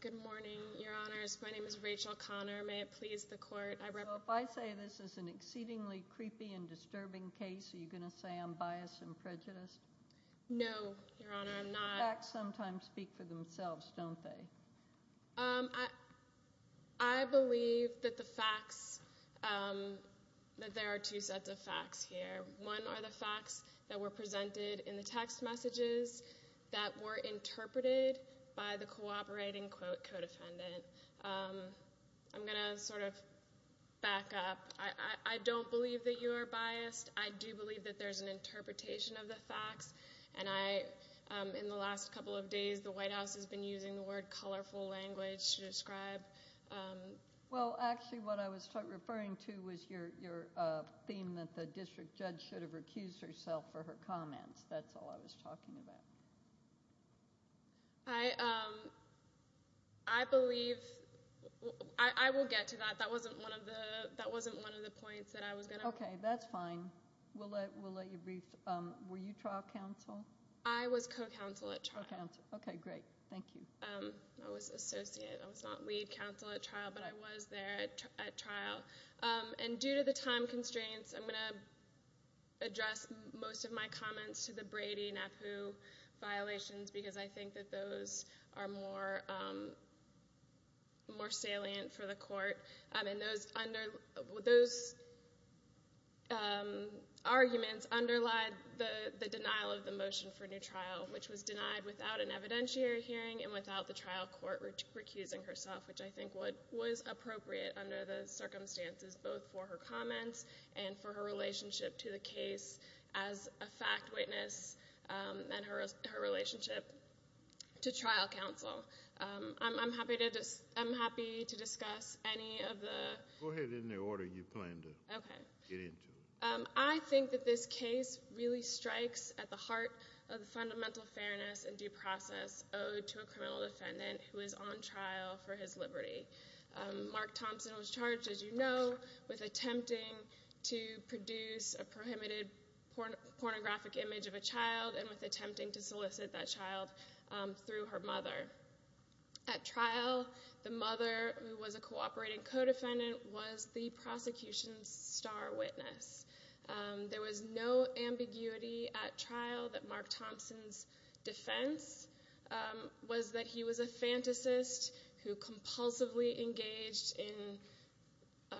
Good morning, Your Honors. My name is Rachel Connor. May it please the Court, I represent... So if I say this is an exceedingly creepy and disturbing case, are you going to say I'm biased and prejudiced? No, Your Honor, I'm not. Facts sometimes speak for themselves, don't they? I believe that the facts, that there are two sets of facts here. One are the facts that were presented in the text messages that were interpreted by the cooperating co-defendant. I'm going to sort of back up. I don't believe that you are biased. I do believe that there's an interpretation of the facts. And in the last couple of days, the White House has been using the word colorful language to describe... Well, actually what I was referring to was your theme that the district judge should have recused herself for her comments. That's all I was talking about. I believe... I will get to that. That wasn't one of the points that I was going to... Okay, that's fine. We'll let you brief. Were you trial counsel? I was co-counsel at trial. Okay, great. Thank you. I was associate. I was not lead counsel at trial, but I was there at trial. And due to the time constraints, I'm going to address most of my comments to the Brady-Napoo violations, because I think that those are more salient for the court. And those arguments underlie the denial of the motion for new trial, which was denied without an evidentiary hearing and without the trial court recusing herself, which I think was appropriate under the circumstances both for her comments and for her relationship to the case as a fact witness and her relationship to trial counsel. I'm happy to discuss any of the... Go ahead in the order you plan to get into. I think that this case really strikes at the heart of the fundamental fairness and due process owed to a criminal defendant who is on trial for his liberty. Mark Thompson was charged, as you know, with attempting to produce a prohibited pornographic image of a child and with attempting to solicit that child through her mother. At trial, the mother, who was a cooperating co-defendant, was the prosecution's star witness. There was no ambiguity at trial that Mark Thompson's defense was that he was a fantasist who compulsively engaged in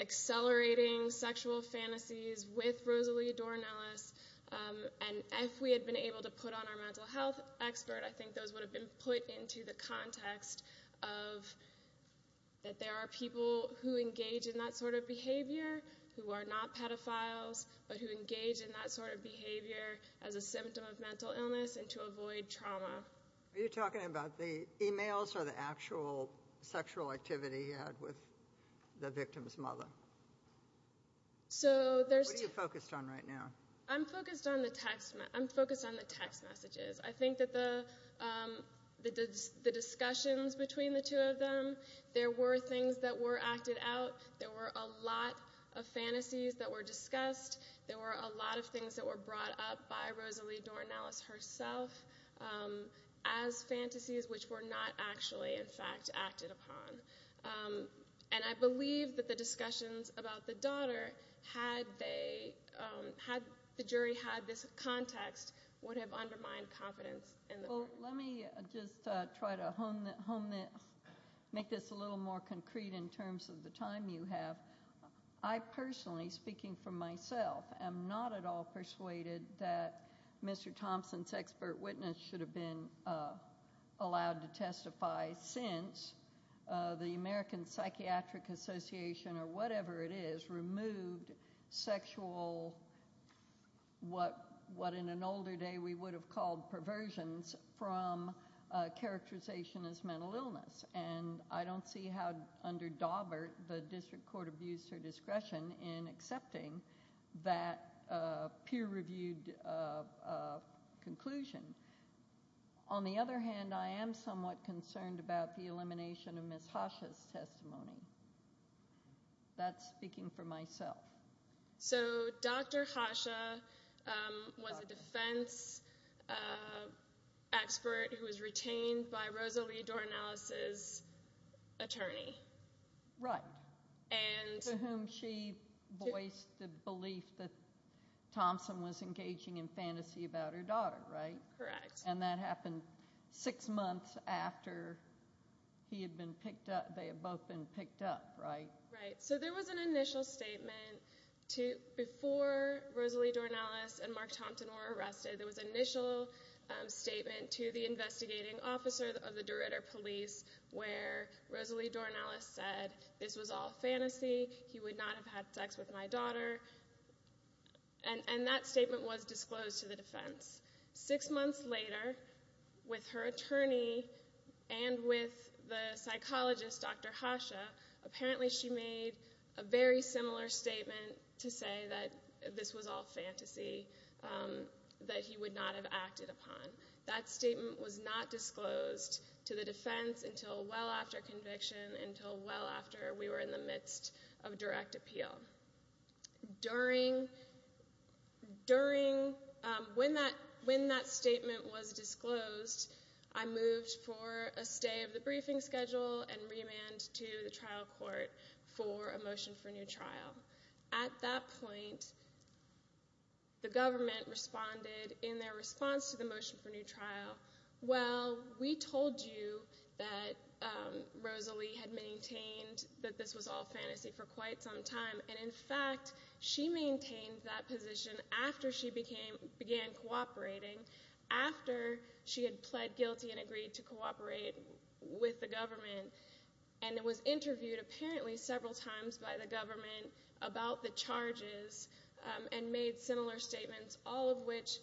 accelerating sexual fantasies with Rosalie Dornellis. And if we had been able to put on our mental health expert, I think those would have been put into the context of that there are people who engage in that sort of behavior, who are not pedophiles, but who engage in that sort of behavior as a symptom of mental illness and to avoid trauma. Are you talking about the e-mails or the actual sexual activity he had with the victim's mother? What are you focused on right now? I'm focused on the text messages. I think that the discussions between the two of them, there were things that were acted out. There were a lot of fantasies that were discussed. There were a lot of things that were brought up by Rosalie Dornellis herself as fantasies which were not actually, in fact, acted upon. And I believe that the discussions about the daughter, had the jury had this context, would have undermined confidence in the court. Let me just try to make this a little more concrete in terms of the time you have. I personally, speaking for myself, am not at all persuaded that Mr. Thompson's expert witness should have been allowed to testify since the American Psychiatric Association, or whatever it is, removed sexual, what in an older day we would have called perversions, from characterization as mental illness. And I don't see how under Daubert the district court abused her discretion in accepting that peer-reviewed conclusion. On the other hand, I am somewhat concerned about the elimination of Ms. Hasha's testimony. That's speaking for myself. So Dr. Hasha was a defense expert who was retained by Rosalie Dornellis's attorney. Right. To whom she voiced the belief that Thompson was engaging in fantasy about her daughter, right? Correct. And that happened six months after they had both been picked up, right? Right. So there was an initial statement before Rosalie Dornellis and Mark Thompson were arrested. There was an initial statement to the investigating officer of the Derrida police where Rosalie Dornellis said, this was all fantasy. He would not have had sex with my daughter. And that statement was disclosed to the defense. Six months later, with her attorney and with the psychologist, Dr. Hasha, apparently she made a very similar statement to say that this was all fantasy, that he would not have acted upon. That statement was not disclosed to the defense until well after conviction, until well after we were in the midst of direct appeal. During, when that statement was disclosed, I moved for a stay of the briefing schedule and remand to the trial court for a motion for new trial. At that point, the government responded in their response to the motion for new trial, well, we told you that Rosalie had maintained that this was all fantasy for quite some time. And, in fact, she maintained that position after she began cooperating, after she had pled guilty and agreed to cooperate with the government, and was interviewed apparently several times by the government about the charges and made similar statements, all of which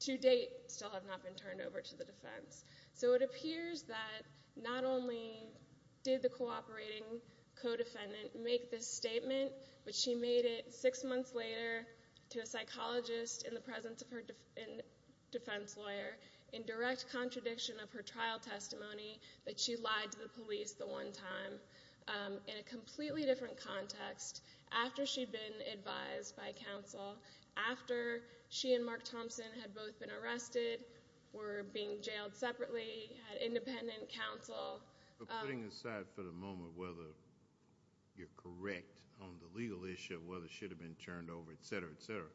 to date still have not been turned over to the defense. So it appears that not only did the cooperating co-defendant make this statement, but she made it six months later to a psychologist in the presence of her defense lawyer in direct contradiction of her trial testimony that she lied to the police the one time in a completely different context after she'd been advised by counsel, after she and Mark Thompson had both been arrested, were being jailed separately, had independent counsel. Putting aside for the moment whether you're correct on the legal issue, whether it should have been turned over, et cetera, et cetera.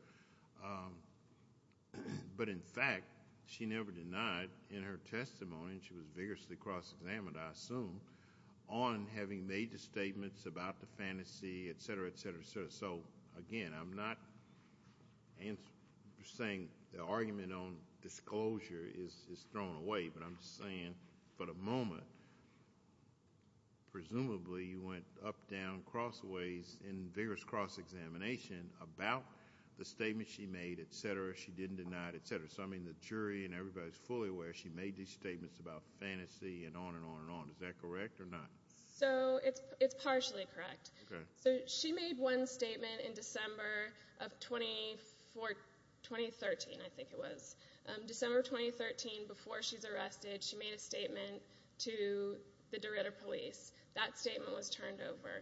But, in fact, she never denied in her testimony, and she was vigorously cross-examined, I assume, on having made the statements about the fantasy, et cetera, et cetera, et cetera. So, again, I'm not saying the argument on disclosure is thrown away, but I'm saying for the moment presumably you went up, down, crossways in vigorous cross-examination about the statement she made, et cetera, she didn't deny it, et cetera. So, I mean, the jury and everybody is fully aware she made these statements about fantasy and on and on and on. Is that correct or not? So it's partially correct. So she made one statement in December of 2013, I think it was, December of 2013, before she's arrested, she made a statement to the Dorito police. That statement was turned over.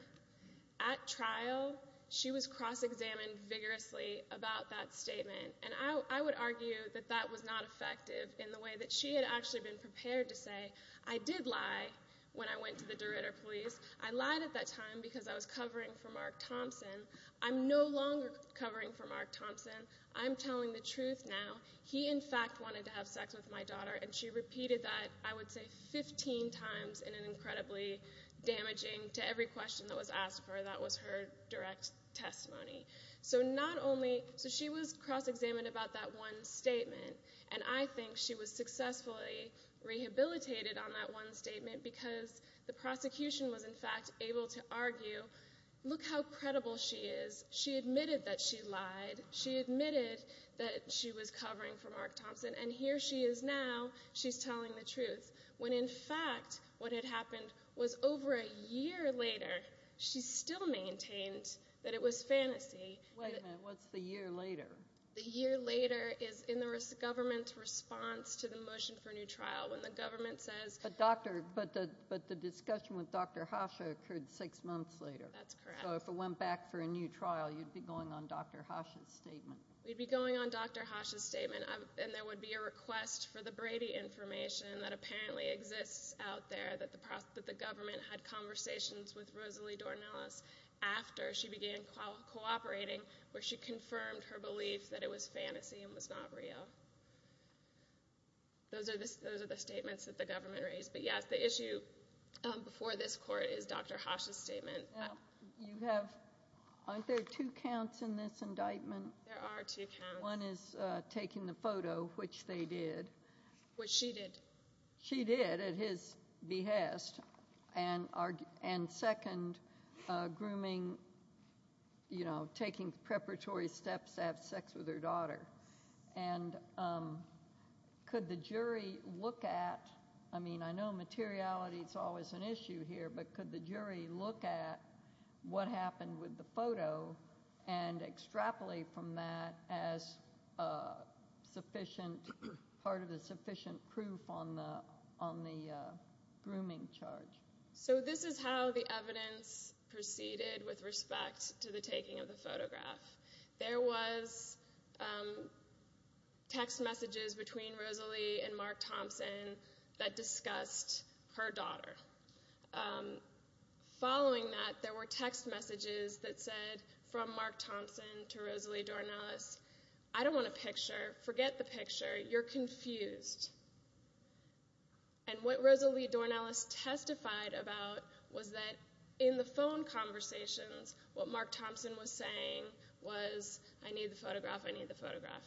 At trial, she was cross-examined vigorously about that statement. And I would argue that that was not effective in the way that she had actually been prepared to say, I did lie when I went to the Dorito police. I lied at that time because I was covering for Mark Thompson. I'm no longer covering for Mark Thompson. I'm telling the truth now. He, in fact, wanted to have sex with my daughter, and she repeated that, I would say, 15 times in an incredibly damaging, to every question that was asked of her, that was her direct testimony. So not only, so she was cross-examined about that one statement, and I think she was successfully rehabilitated on that one statement because the prosecution was, in fact, able to argue, look how credible she is. She admitted that she lied. She admitted that she was covering for Mark Thompson. And here she is now. She's telling the truth. When, in fact, what had happened was over a year later, she still maintained that it was fantasy. Wait a minute. What's the year later? The year later is in the government's response to the motion for a new trial when the government says— But the discussion with Dr. Hasha occurred six months later. That's correct. So if it went back for a new trial, you'd be going on Dr. Hasha's statement. We'd be going on Dr. Hasha's statement, and there would be a request for the Brady information that apparently exists out there that the government had conversations with Rosalie Dornelis after she began cooperating where she confirmed her belief that it was fantasy and was not real. Those are the statements that the government raised. But, yes, the issue before this court is Dr. Hasha's statement. Aren't there two counts in this indictment? There are two counts. One is taking the photo, which they did. Which she did. She did at his behest. And second, grooming, you know, taking preparatory steps to have sex with her daughter. And could the jury look at—I mean, I know materiality is always an issue here, but could the jury look at what happened with the photo and extrapolate from that as part of the sufficient proof on the grooming charge? So this is how the evidence proceeded with respect to the taking of the photograph. There was text messages between Rosalie and Mark Thompson that discussed her daughter. Following that, there were text messages that said, from Mark Thompson to Rosalie Dornelis, I don't want a picture, forget the picture, you're confused. And what Rosalie Dornelis testified about was that in the phone conversations, what Mark Thompson was saying was, I need the photograph, I need the photograph.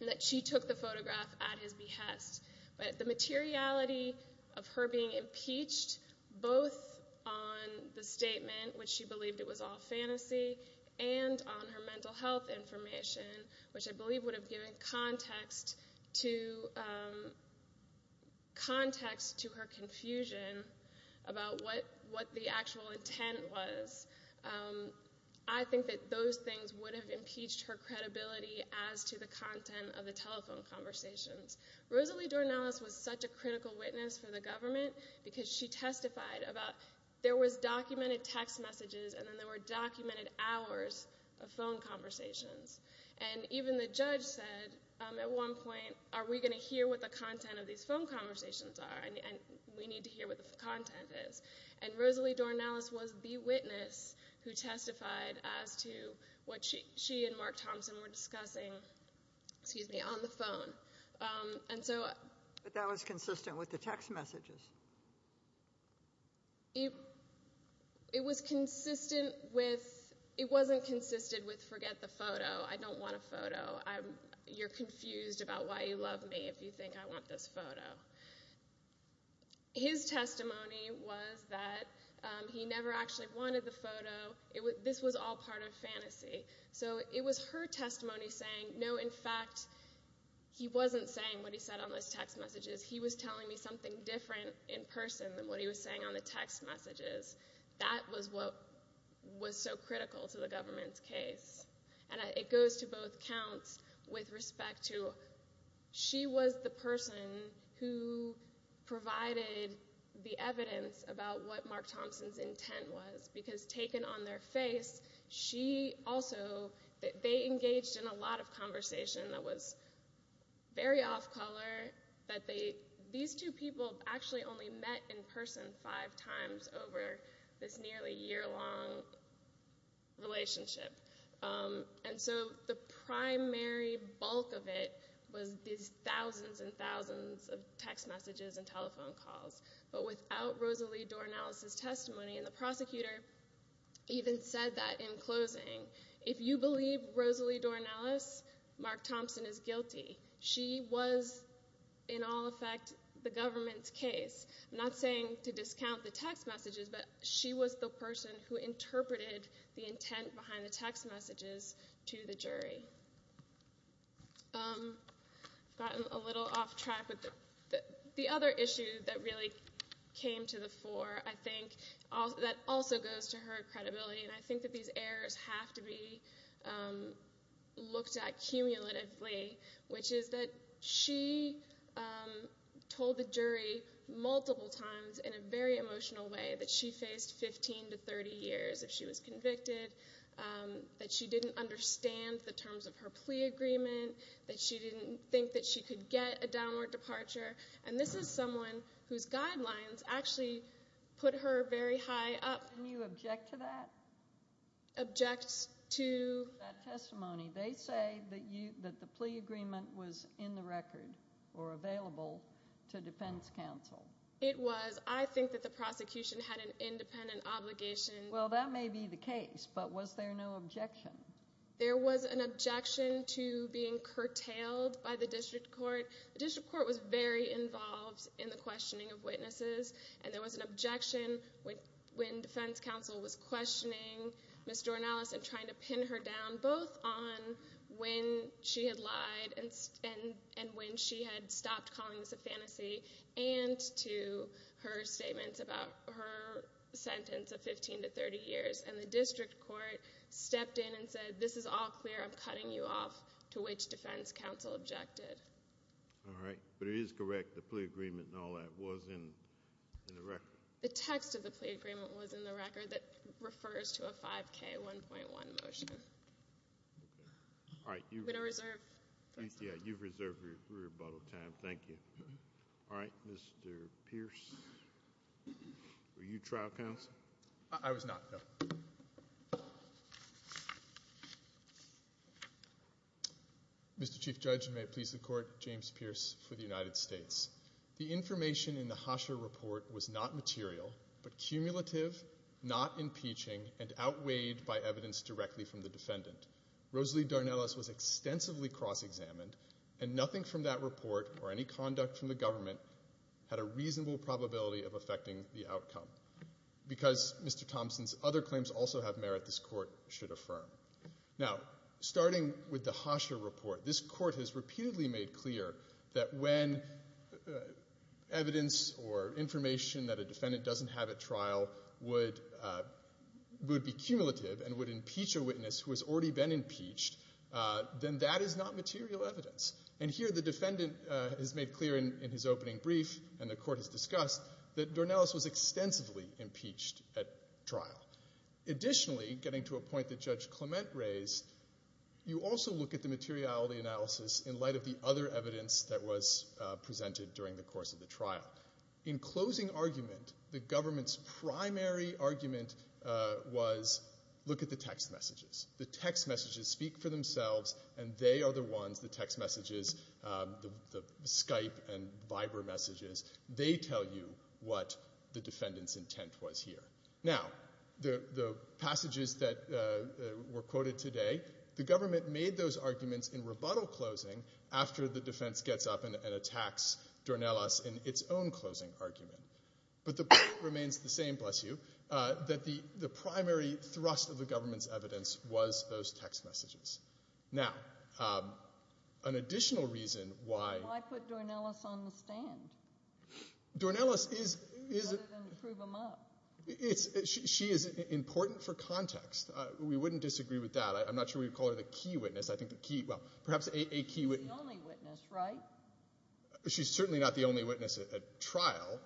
And that she took the photograph at his behest. But the materiality of her being impeached, both on the statement, which she believed it was all fantasy, and on her mental health information, which I believe would have given context to her confusion about what the actual intent was, I think that those things would have impeached her credibility as to the content of the telephone conversations. Rosalie Dornelis was such a critical witness for the government because she testified about there was documented text messages and then there were documented hours of phone conversations. And even the judge said, at one point, are we going to hear what the content of these phone conversations are? And we need to hear what the content is. And Rosalie Dornelis was the witness who testified as to what she and Mark Thompson were discussing, excuse me, on the phone. But that was consistent with the text messages. It wasn't consistent with, forget the photo, I don't want a photo. You're confused about why you love me if you think I want this photo. His testimony was that he never actually wanted the photo. This was all part of fantasy. So it was her testimony saying, no, in fact, he wasn't saying what he said on those text messages. He was telling me something different in person than what he was saying on the text messages. That was what was so critical to the government's case. And it goes to both counts with respect to she was the person who provided the evidence about what Mark Thompson's intent was because taken on their face, she also, they engaged in a lot of conversation that was very off-color, that these two people actually only met in person five times over this nearly year-long relationship. And so the primary bulk of it was these thousands and thousands of text messages and telephone calls. But without Rosalie Dornelis' testimony, and the prosecutor even said that in closing, if you believe Rosalie Dornelis, Mark Thompson is guilty. She was, in all effect, the government's case. I'm not saying to discount the text messages, but she was the person who interpreted the intent behind the text messages to the jury. I've gotten a little off track, but the other issue that really came to the fore, I think, that also goes to her credibility, and I think that these errors have to be looked at cumulatively, which is that she told the jury multiple times in a very emotional way that she faced 15 to 30 years if she was convicted, that she didn't understand the terms of her plea agreement, that she didn't think that she could get a downward departure. And this is someone whose guidelines actually put her very high up. Can you object to that? Object to? That testimony. They say that the plea agreement was in the record or available to defense counsel. It was. I think that the prosecution had an independent obligation. Well, that may be the case, but was there no objection? There was an objection to being curtailed by the district court. The district court was very involved in the questioning of witnesses, and there was an objection when defense counsel was questioning Ms. Jornalis and trying to pin her down both on when she had lied and when she had stopped calling this a fantasy and to her statements about her sentence of 15 to 30 years. And the district court stepped in and said, this is all clear, I'm cutting you off, to which defense counsel objected. All right. But it is correct, the plea agreement and all that was in the record. The text of the plea agreement was in the record that refers to a 5K, 1.1 motion. All right. I'm going to reserve. Yeah, you've reserved your rebuttal time. Thank you. All right. Mr. Pierce, were you trial counsel? I was not, no. Mr. Chief Judge, and may it please the Court, James Pierce for the United States. The information in the Hasher Report was not material, but cumulative, not impeaching, and outweighed by evidence directly from the defendant. Rosalie Jornalis was extensively cross-examined, had a reasonable probability of affecting the outcome. Because Mr. Thompson's other claims also have merit, this Court should affirm. Now, starting with the Hasher Report, this Court has repeatedly made clear that when evidence or information that a defendant doesn't have at trial would be cumulative and would impeach a witness who has already been impeached, then that is not material evidence. And here the defendant has made clear in his opening brief, and the Court has discussed, that Jornalis was extensively impeached at trial. Additionally, getting to a point that Judge Clement raised, you also look at the materiality analysis in light of the other evidence that was presented during the course of the trial. In closing argument, the government's primary argument was look at the text messages. The text messages speak for themselves, and they are the ones, the text messages, the Skype and Viber messages, they tell you what the defendant's intent was here. Now, the passages that were quoted today, the government made those arguments in rebuttal closing after the defense gets up and attacks Jornalis in its own closing argument. But the point remains the same, bless you, that the primary thrust of the government's evidence was those text messages. Now, an additional reason why... Why put Jornalis on the stand? Jornalis is... Rather than prove him up. She is important for context. We wouldn't disagree with that. I'm not sure we would call her the key witness. I think the key, well, perhaps a key witness... She's the only witness, right? She's certainly not the only witness at trial.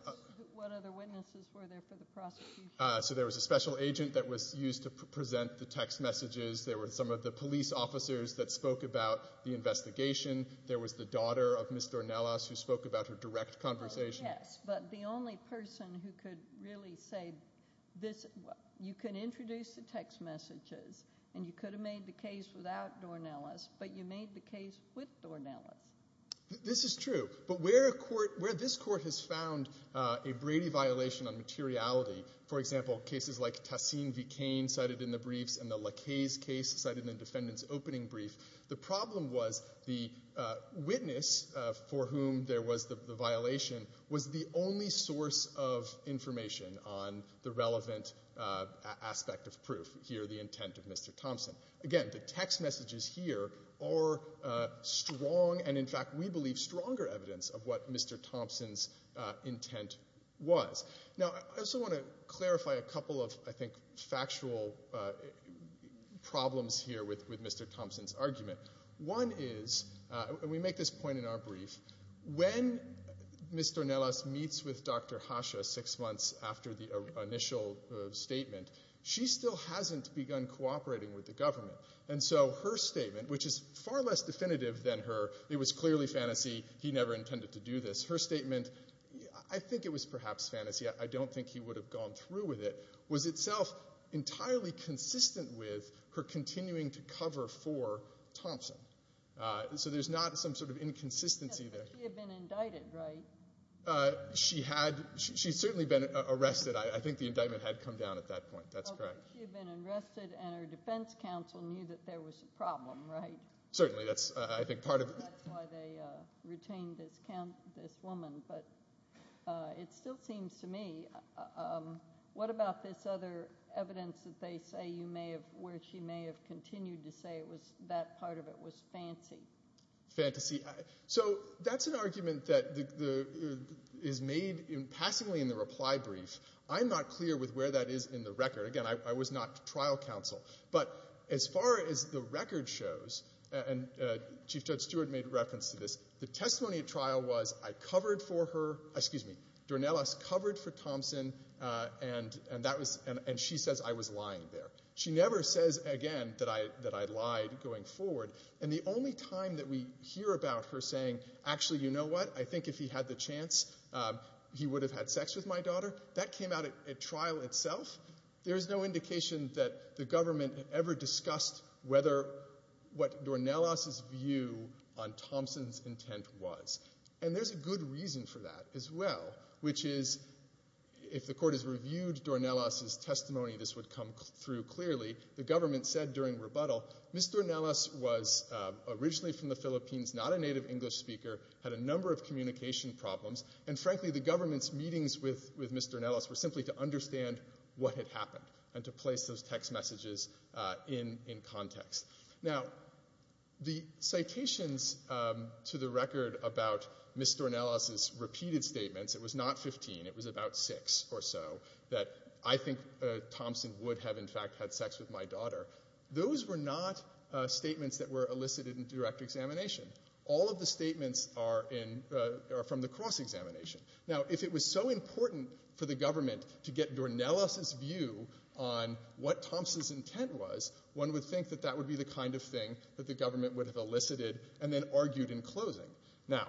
What other witnesses were there for the prosecution? So there was a special agent that was used to present the text messages. There were some of the police officers that spoke about the investigation. There was the daughter of Ms. Jornalis who spoke about her direct conversation. Yes, but the only person who could really say this... You can introduce the text messages, and you could have made the case without Jornalis, but you made the case with Jornalis. This is true. But where this court has found a Brady violation on materiality, for example, cases like Tassin v. Cain cited in the briefs and the Lacaze case cited in the defendant's opening brief, the problem was the witness for whom there was the violation was the only source of information on the relevant aspect of proof, here the intent of Mr. Thompson. Again, the text messages here are strong, and in fact we believe stronger evidence of what Mr. Thompson's intent was. Now I also want to clarify a couple of, I think, factual problems here with Mr. Thompson's argument. One is, and we make this point in our brief, when Ms. Jornalis meets with Dr. Hasha six months after the initial statement, she still hasn't begun cooperating with the government. And so her statement, which is far less definitive than her, it was clearly fantasy, he never intended to do this. Her statement, I think it was perhaps fantasy, I don't think he would have gone through with it, was itself entirely consistent with her continuing to cover for Thompson. So there's not some sort of inconsistency there. But she had been indicted, right? She had. She had certainly been arrested. I think the indictment had come down at that point. That's correct. She had been arrested and her defense counsel knew that there was a problem, right? Certainly. That's, I think, part of it. That's why they retained this woman. But it still seems to me, what about this other evidence that they say you may have, where she may have continued to say that part of it was fantasy? Fantasy. So that's an argument that is made in passing in the reply brief. I'm not clear with where that is in the record. Again, I was not trial counsel. But as far as the record shows, and Chief Judge Stewart made reference to this, the testimony at trial was I covered for her, excuse me, Dornelas covered for Thompson and she says I was lying there. She never says again that I lied going forward. And the only time that we hear about her saying, actually, you know what, I think if he had the chance he would have had sex with my daughter, that came out at trial itself. There's no indication that the government ever discussed what Dornelas' view on Thompson's intent was. And there's a good reason for that as well, which is if the court has reviewed Dornelas' testimony, this would come through clearly. The government said during rebuttal, Ms. Dornelas was originally from the Philippines, not a native English speaker, had a number of communication problems, and frankly the government's meetings with Ms. Dornelas were simply to understand what had happened and to place those text messages in context. Now, the citations to the record about Ms. Dornelas' repeated statements, it was not 15, it was about six or so, that I think Thompson would have in fact had sex with my daughter, those were not statements that were elicited in direct examination. All of the statements are from the cross-examination. Now, if it was so important for the government to get Dornelas' view on what Thompson's intent was, one would think that that would be the kind of thing that the government would have elicited and then argued in closing. Now,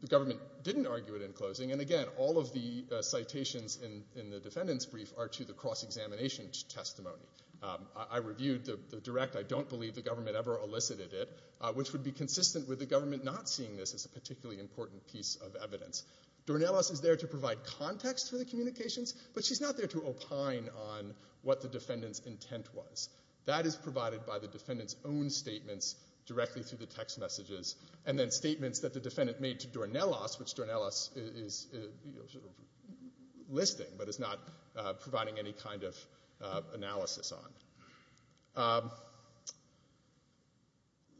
the government didn't argue it in closing, and again, all of the citations in the defendant's brief are to the cross-examination testimony. I reviewed the direct, I don't believe the government ever elicited it, which would be consistent with the government not seeing this as a particularly important piece of evidence. Dornelas is there to provide context for the communications, but she's not there to opine on what the defendant's intent was. That is provided by the defendant's own statements directly through the text messages, and then statements that the defendant made to Dornelas, which Dornelas is listing, but is not providing any kind of analysis on.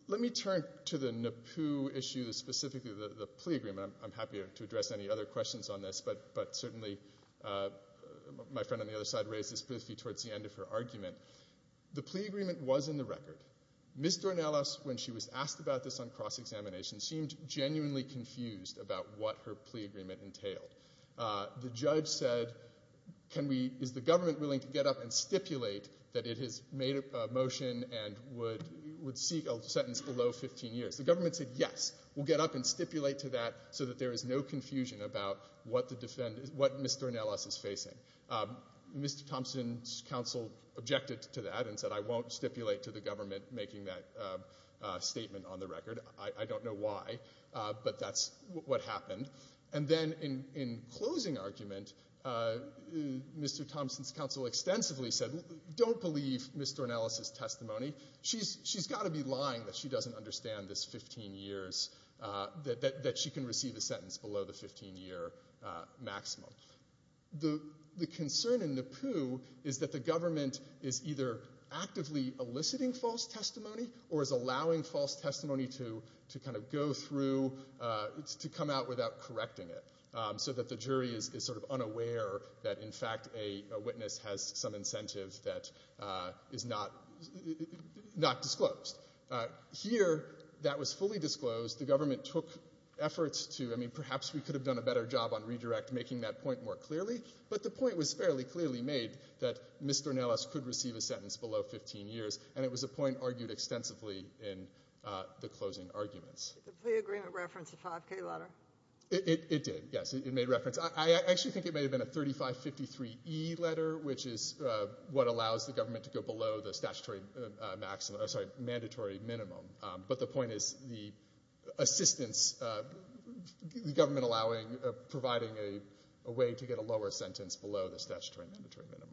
Let me turn to the NAPU issue, specifically the plea agreement. I'm happy to address any other questions on this, but certainly my friend on the other side raised this briefly towards the end of her argument. The plea agreement was in the record. Ms. Dornelas, when she was asked about this on cross-examination, seemed genuinely confused about what her plea agreement entailed. The judge said, is the government willing to get up and stipulate that it has made a motion and would seek a sentence below 15 years? The government said, yes, we'll get up and stipulate to that so that there is no confusion about what Ms. Dornelas is facing. Mr. Thompson's counsel objected to that and said, I won't stipulate to the government making that statement on the record. I don't know why, but that's what happened. And then in closing argument, Mr. Thompson's counsel extensively said, don't believe Ms. Dornelas' testimony. She's got to be lying that she doesn't understand this 15 years, that she can receive a sentence below the 15-year maximum. The concern in NAPU is that the government is either actively eliciting false testimony or is allowing false testimony to kind of go through, to come out without correcting it, so that the jury is sort of unaware that, in fact, a witness has some incentive that is not disclosed. Here, that was fully disclosed. The government took efforts to, I mean, perhaps we could have done a better job on redirect making that point more clearly, but the point was fairly clearly made that Ms. Dornelas could receive a sentence below 15 years, and it was a point argued extensively in the closing arguments. Did the plea agreement reference the 5K letter? It did, yes, it made reference. I actually think it may have been a 3553E letter, which is what allows the government to go below the statutory maximum, I'm sorry, mandatory minimum. But the point is the assistance, the government allowing, providing a way to get a lower sentence below the statutory mandatory minimum.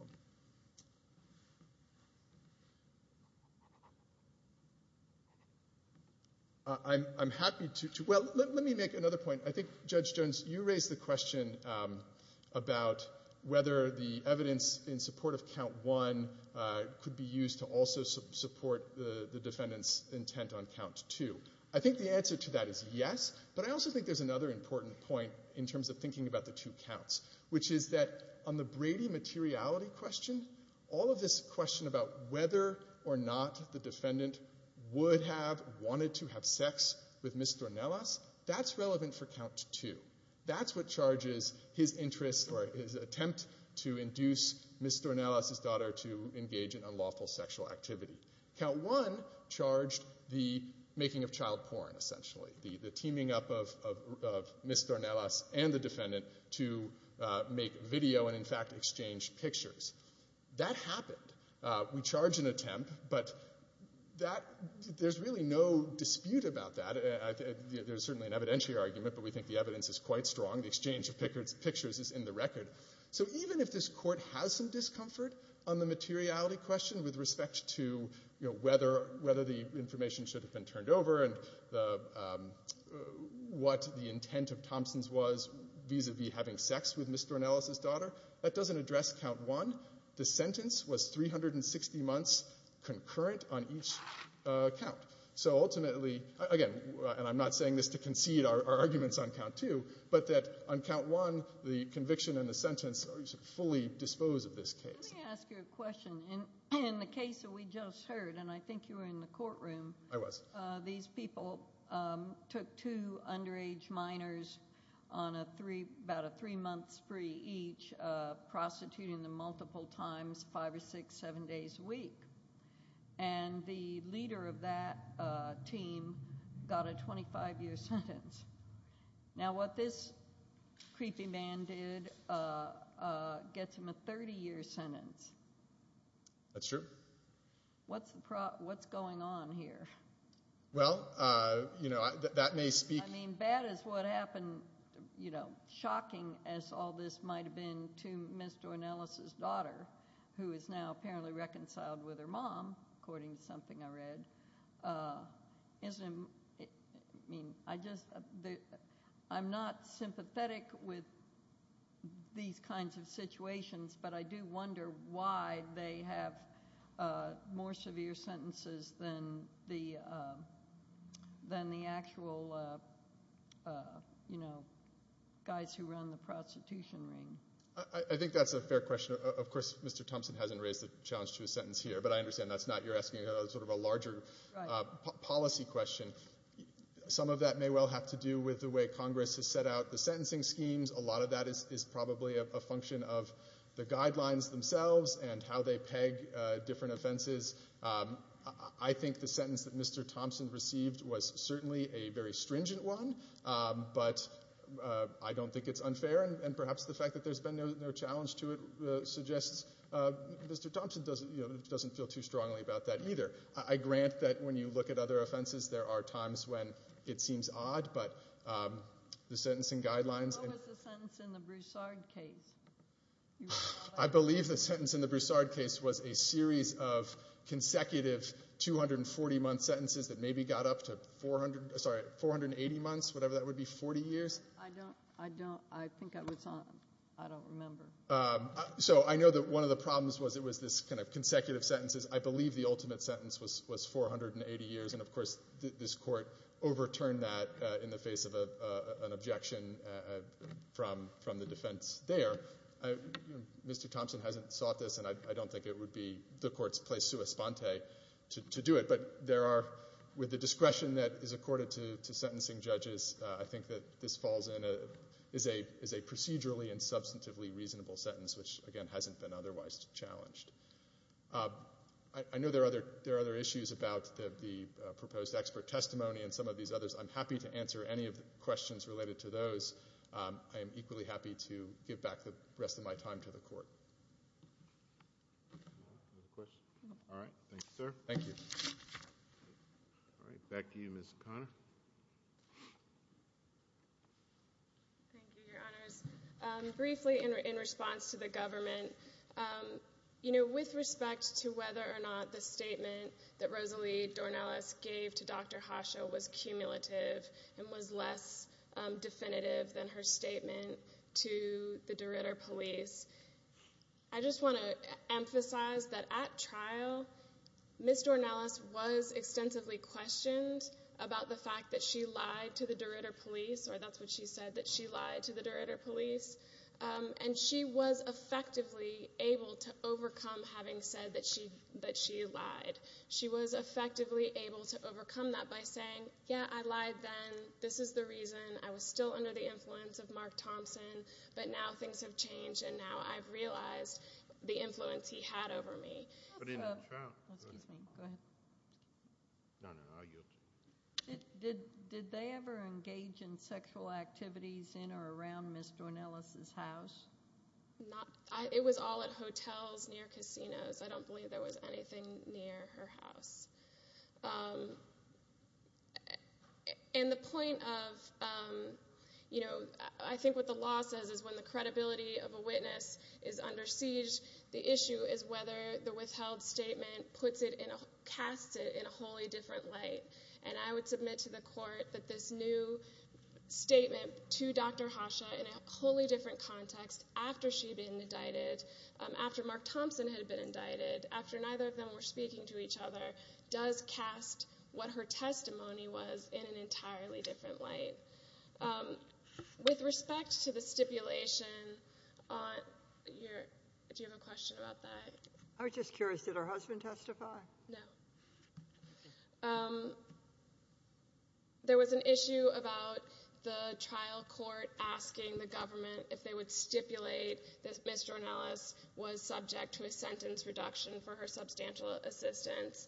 I'm happy to... Well, let me make another point. I think, Judge Jones, you raised the question about whether the evidence in support of count one could be used to also support the defendant's intent on count two. I think the answer to that is yes, but I also think there's another important point which is that on the Brady materiality question, all of this question about whether or not the defendant would have wanted to have sex with Ms. Dornelas, that's relevant for count two. That's what charges his interest or his attempt to induce Ms. Dornelas's daughter to engage in unlawful sexual activity. Count one charged the making of child porn, essentially, the teaming up of Ms. Dornelas and the defendant to make video and, in fact, exchange pictures. That happened. We charge an attempt, but that... There's really no dispute about that. There's certainly an evidentiary argument, but we think the evidence is quite strong. The exchange of pictures is in the record. So even if this Court has some discomfort on the materiality question with respect to, you know, whether the information should have been turned over and what the intent of Thompson's was vis-à-vis having sex with Ms. Dornelas's daughter, that doesn't address count one. The sentence was 360 months concurrent on each count. So ultimately, again, and I'm not saying this to concede our arguments on count two, but that on count one, the conviction and the sentence are fully disposed of this case. Let me ask you a question. In the case that we just heard, and I think you were in the courtroom... I was. ...these people took two underage minors on about a three-month spree each, prostituting them multiple times, five or six, seven days a week. And the leader of that team got a 25-year sentence. Now, what this creepy man did gets him a 30-year sentence. That's true. What's going on here? Well, you know, that may speak... I mean, bad is what happened, you know, shocking, as all this might have been to Ms. Dornelas's daughter, who is now apparently reconciled with her mom, according to something I read. Isn't it... I mean, I just... I'm not sympathetic with these kinds of situations, but I do wonder why they have more severe sentences than the actual, you know, guys who run the prostitution ring. I think that's a fair question. Of course, Mr. Thompson hasn't raised the challenge to a sentence here, but I understand that's not... you're asking sort of a larger policy question. Some of that may well have to do with the way Congress has set out the sentencing schemes. A lot of that is probably a function of the guidelines themselves and how they peg different offenses. I think the sentence that Mr. Thompson received was certainly a very stringent one, but I don't think it's unfair, and perhaps the fact that there's been no challenge to it suggests Mr. Thompson doesn't feel too strongly about that either. I grant that when you look at other offenses, there are times when it seems odd, but the sentencing guidelines... What was the sentence in the Broussard case? I believe the sentence in the Broussard case was a series of consecutive 240-month sentences that maybe got up to 400... Sorry, 480 months, whatever that would be, 40 years. I don't... I think I was on... I don't remember. So I know that one of the problems was it was this kind of consecutive sentences. I believe the ultimate sentence was 480 years, and, of course, this Court overturned that in the face of an objection from the defense there. Mr. Thompson hasn't sought this, and I don't think it would be the Court's place sua sponte to do it, but there are... With the discretion that is accorded to sentencing judges, I think that this falls in as a procedurally and substantively reasonable sentence, which, again, hasn't been otherwise challenged. I know there are other issues about the proposed expert testimony and some of these others. I'm happy to answer any of the questions related to those. I am equally happy to give back the rest of my time to the Court. Any questions? All right, thank you, sir. Thank you. All right, back to you, Ms. O'Connor. Thank you, Your Honors. Briefly, in response to the government, you know, with respect to whether or not the statement that Rosalie Dornelis gave to Dr. Hasha was cumulative and was less definitive than her statement to the Derrida police, I just want to emphasize that at trial, Ms. Dornelis was extensively questioned about the fact that she lied to the Derrida police, or that's what she said, that she lied to the Derrida police, and she was effectively able to overcome having said that she lied. She was effectively able to overcome that by saying, yeah, I lied then, this is the reason, I was still under the influence of Mark Thompson, but now things have changed, and now I've realized the influence he had over me. Did they ever engage in sexual activities in or around Ms. Dornelis' house? It was all at hotels, near casinos. I don't believe there was anything near her house. And the point of, you know, I think what the law says is when the credibility of a witness is under siege, the issue is whether the withheld statement casts it in a wholly different light, and I would submit to the court that this new statement to Dr. Hasha in a wholly different context, after she'd been indicted, after Mark Thompson had been indicted, after neither of them were speaking to each other, does cast what her testimony was in an entirely different light. With respect to the stipulation on your, do you have a question about that? I was just curious, did her husband testify? No. There was an issue about the trial court asking the government if they would stipulate that Ms. Dornelis was subject to a sentence reduction for her substantial assistance.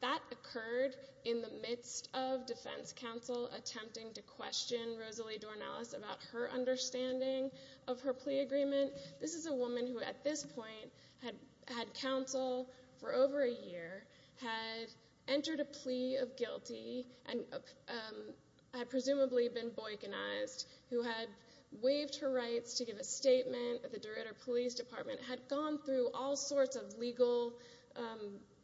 That occurred in the midst of defense counsel attempting to question Rosalie Dornelis about her understanding of her plea agreement. This is a woman who, at this point, had counsel for over a year, had entered a plea of guilty, and had presumably been boycottized, who had waived her rights to give a statement at the Derrida Police Department, had gone through all sorts of legal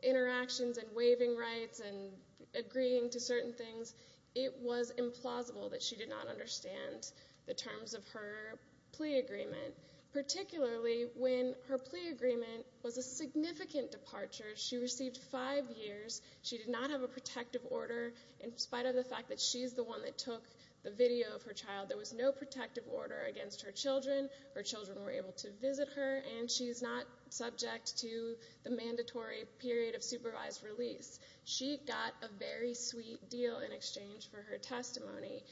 interactions and waiving rights and agreeing to certain things. It was implausible that she did not understand the terms of her plea agreement, particularly when her plea agreement was a significant departure. She received five years. She did not have a protective order. In spite of the fact that she's the one that took the video of her child, there was no protective order against her children. Her children were able to visit her, and she's not subject to the mandatory period of supervised release. She got a very sweet deal in exchange for her testimony,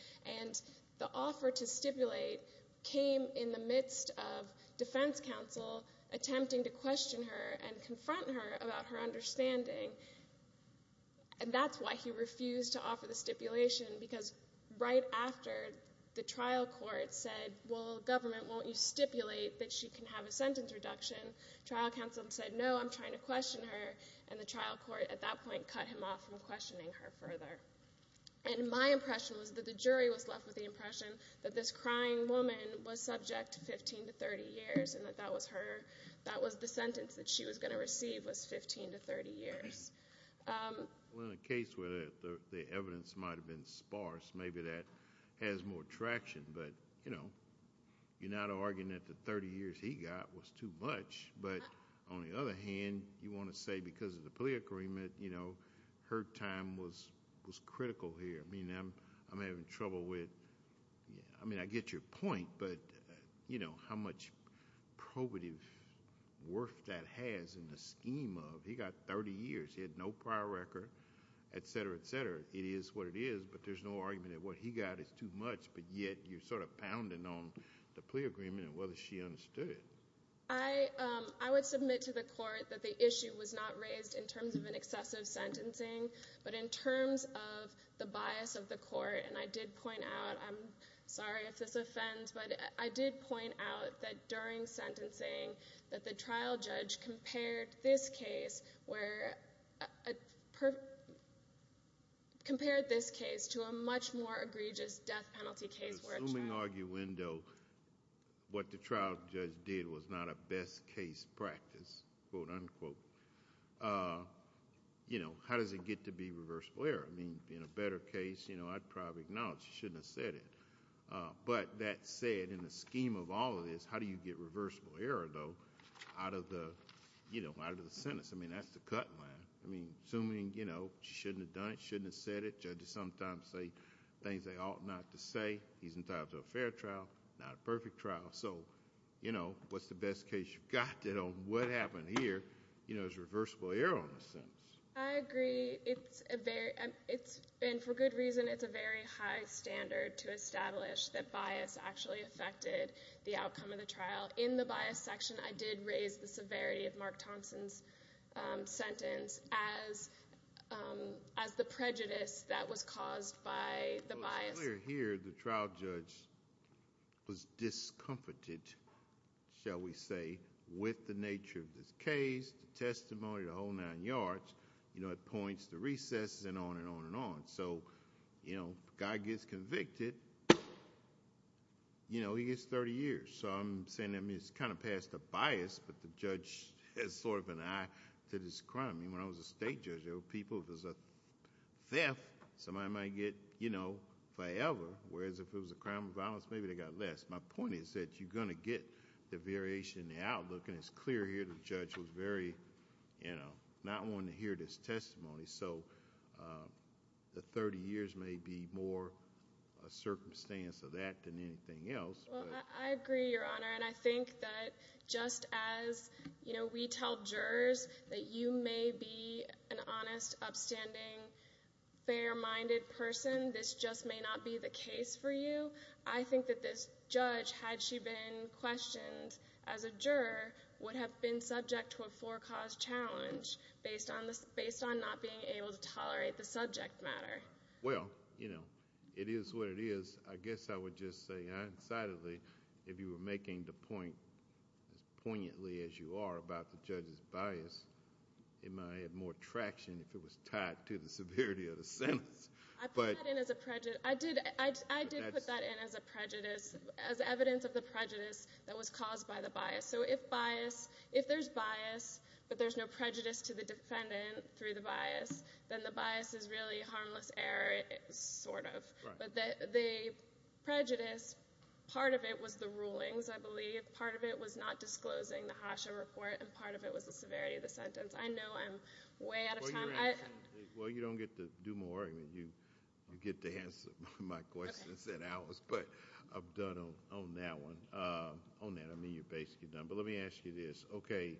and the offer to stipulate came in the midst of defense counsel attempting to question her and confront her about her understanding. And that's why he refused to offer the stipulation, because right after the trial court said, well, government, won't you stipulate that she can have a sentence reduction, trial counsel said, no, I'm trying to question her, and the trial court at that point cut him off from questioning her further. And my impression was that the jury was left with the impression that this crying woman was subject to 15 to 30 years and that that was her... that was the sentence that she was going to receive was 15 to 30 years. Well, in a case where the evidence might have been sparse, maybe that has more traction, but, you know, you're not arguing that the 30 years he got was too much, but on the other hand, you want to say because of the plea agreement, you know, her time was critical here. I mean, I'm having trouble with... I mean, I get your point, but, you know, how much probative worth that has in the scheme of he got 30 years, he had no prior record, et cetera, et cetera. It is what it is, but there's no argument that what he got is too much, but yet you're sort of pounding on the plea agreement and whether she understood it. I would submit to the court that the issue was not raised in terms of an excessive sentencing, but in terms of the bias of the court, and I did point out, I'm sorry if this offends, but I did point out that during sentencing that the trial judge compared this case where... Assuming arguendo, what the trial judge did was not a best case practice, quote, unquote, you know, how does it get to be reversible error? I mean, in a better case, you know, I'd probably acknowledge she shouldn't have said it, but that said, in the scheme of all of this, how do you get reversible error, though, out of the, you know, out of the sentence? I mean, that's the cut line. I mean, assuming, you know, she shouldn't have done it, shouldn't have said it, judges sometimes say things they ought not to say. He's entitled to a fair trial, not a perfect trial. So, you know, what's the best case you've got? You know, what happened here, you know, is reversible error on the sentence. I agree. It's a very... And for good reason, it's a very high standard to establish that bias actually affected the outcome of the trial. In the bias section, I did raise the severity of Mark Thompson's sentence as the prejudice that was caused by the bias. Well, it's clear here the trial judge was discomforted, shall we say, with the nature of this case, the testimony, the whole nine yards, you know, at points, the recesses, and on and on and on. So, you know, the guy gets convicted, you know, he gets 30 years. So I'm saying, I mean, it's kind of past the bias, but the judge has sort of an eye to this crime. I mean, when I was a state judge, there were people, if it was a theft, somebody might get, you know, forever, whereas if it was a crime of violence, maybe they got less. My point is that you're going to get the variation in the outlook, and it's clear here the judge was very, you know, not wanting to hear this testimony. So the 30 years may be more a circumstance of that than anything else. Well, I agree, Your Honor, and I think that just as, you know, when we tell jurors that you may be an honest, upstanding, fair-minded person, this just may not be the case for you. I think that this judge, had she been questioned as a juror, would have been subject to a four-cause challenge based on not being able to tolerate the subject matter. Well, you know, it is what it is. I guess I would just say, I decidedly, if you were making the point, as poignantly as you are, about the judge's bias, it might have had more traction if it was tied to the severity of the sentence. I put that in as a prejudice. I did put that in as a prejudice, as evidence of the prejudice that was caused by the bias. So if bias, if there's bias, but there's no prejudice to the defendant through the bias, then the bias is really harmless error, sort of. But the prejudice, part of it was the rulings, I believe. Part of it was not disclosing the HACHA report, and part of it was the severity of the sentence. I know I'm way out of time. Well, you don't get to do more argument. You get to answer my questions instead of ours. But I'm done on that one. On that, I mean, you're basically done. But let me ask you this. Okay,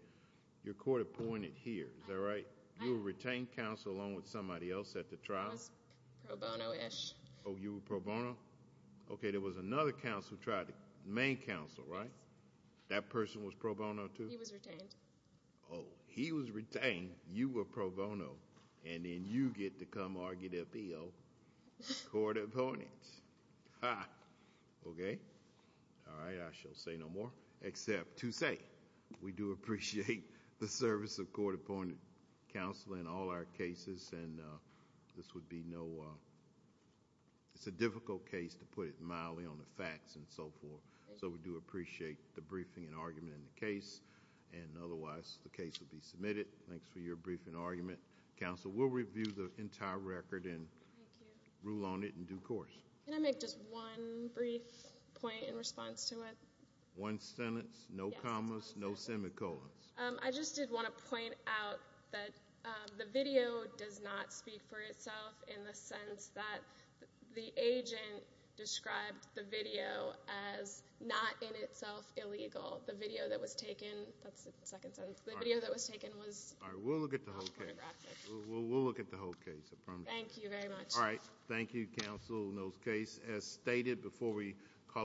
your court appointed here, is that right? You were retained counsel along with somebody else at the trial? I was pro bono-ish. Oh, you were pro bono? Okay, there was another counsel, the main counsel, right? Yes. That person was pro bono, too? He was retained. Oh, he was retained, you were pro bono, and then you get to come argue the appeal, court appointed. Ha! Okay. All right, I shall say no more. Except to say we do appreciate the service of court appointed counsel in all our cases, and this would be no, it's a difficult case to put it mildly on the facts and so forth. So we do appreciate the briefing and argument in the case, and otherwise the case would be submitted. Thanks for your briefing and argument. Counsel, we'll review the entire record and rule on it in due course. Can I make just one brief point in response to it? One sentence, no commas, no semicolons. I just did want to point out that the video does not speak for itself in the sense that the agent described the video as not in itself illegal. The video that was taken, that's the second sentence, the video that was taken was not photographic. All right, we'll look at the whole case. We'll look at the whole case, I promise you. Thank you very much. All right, thank you, counsel, in those cases. As stated before we call it a day,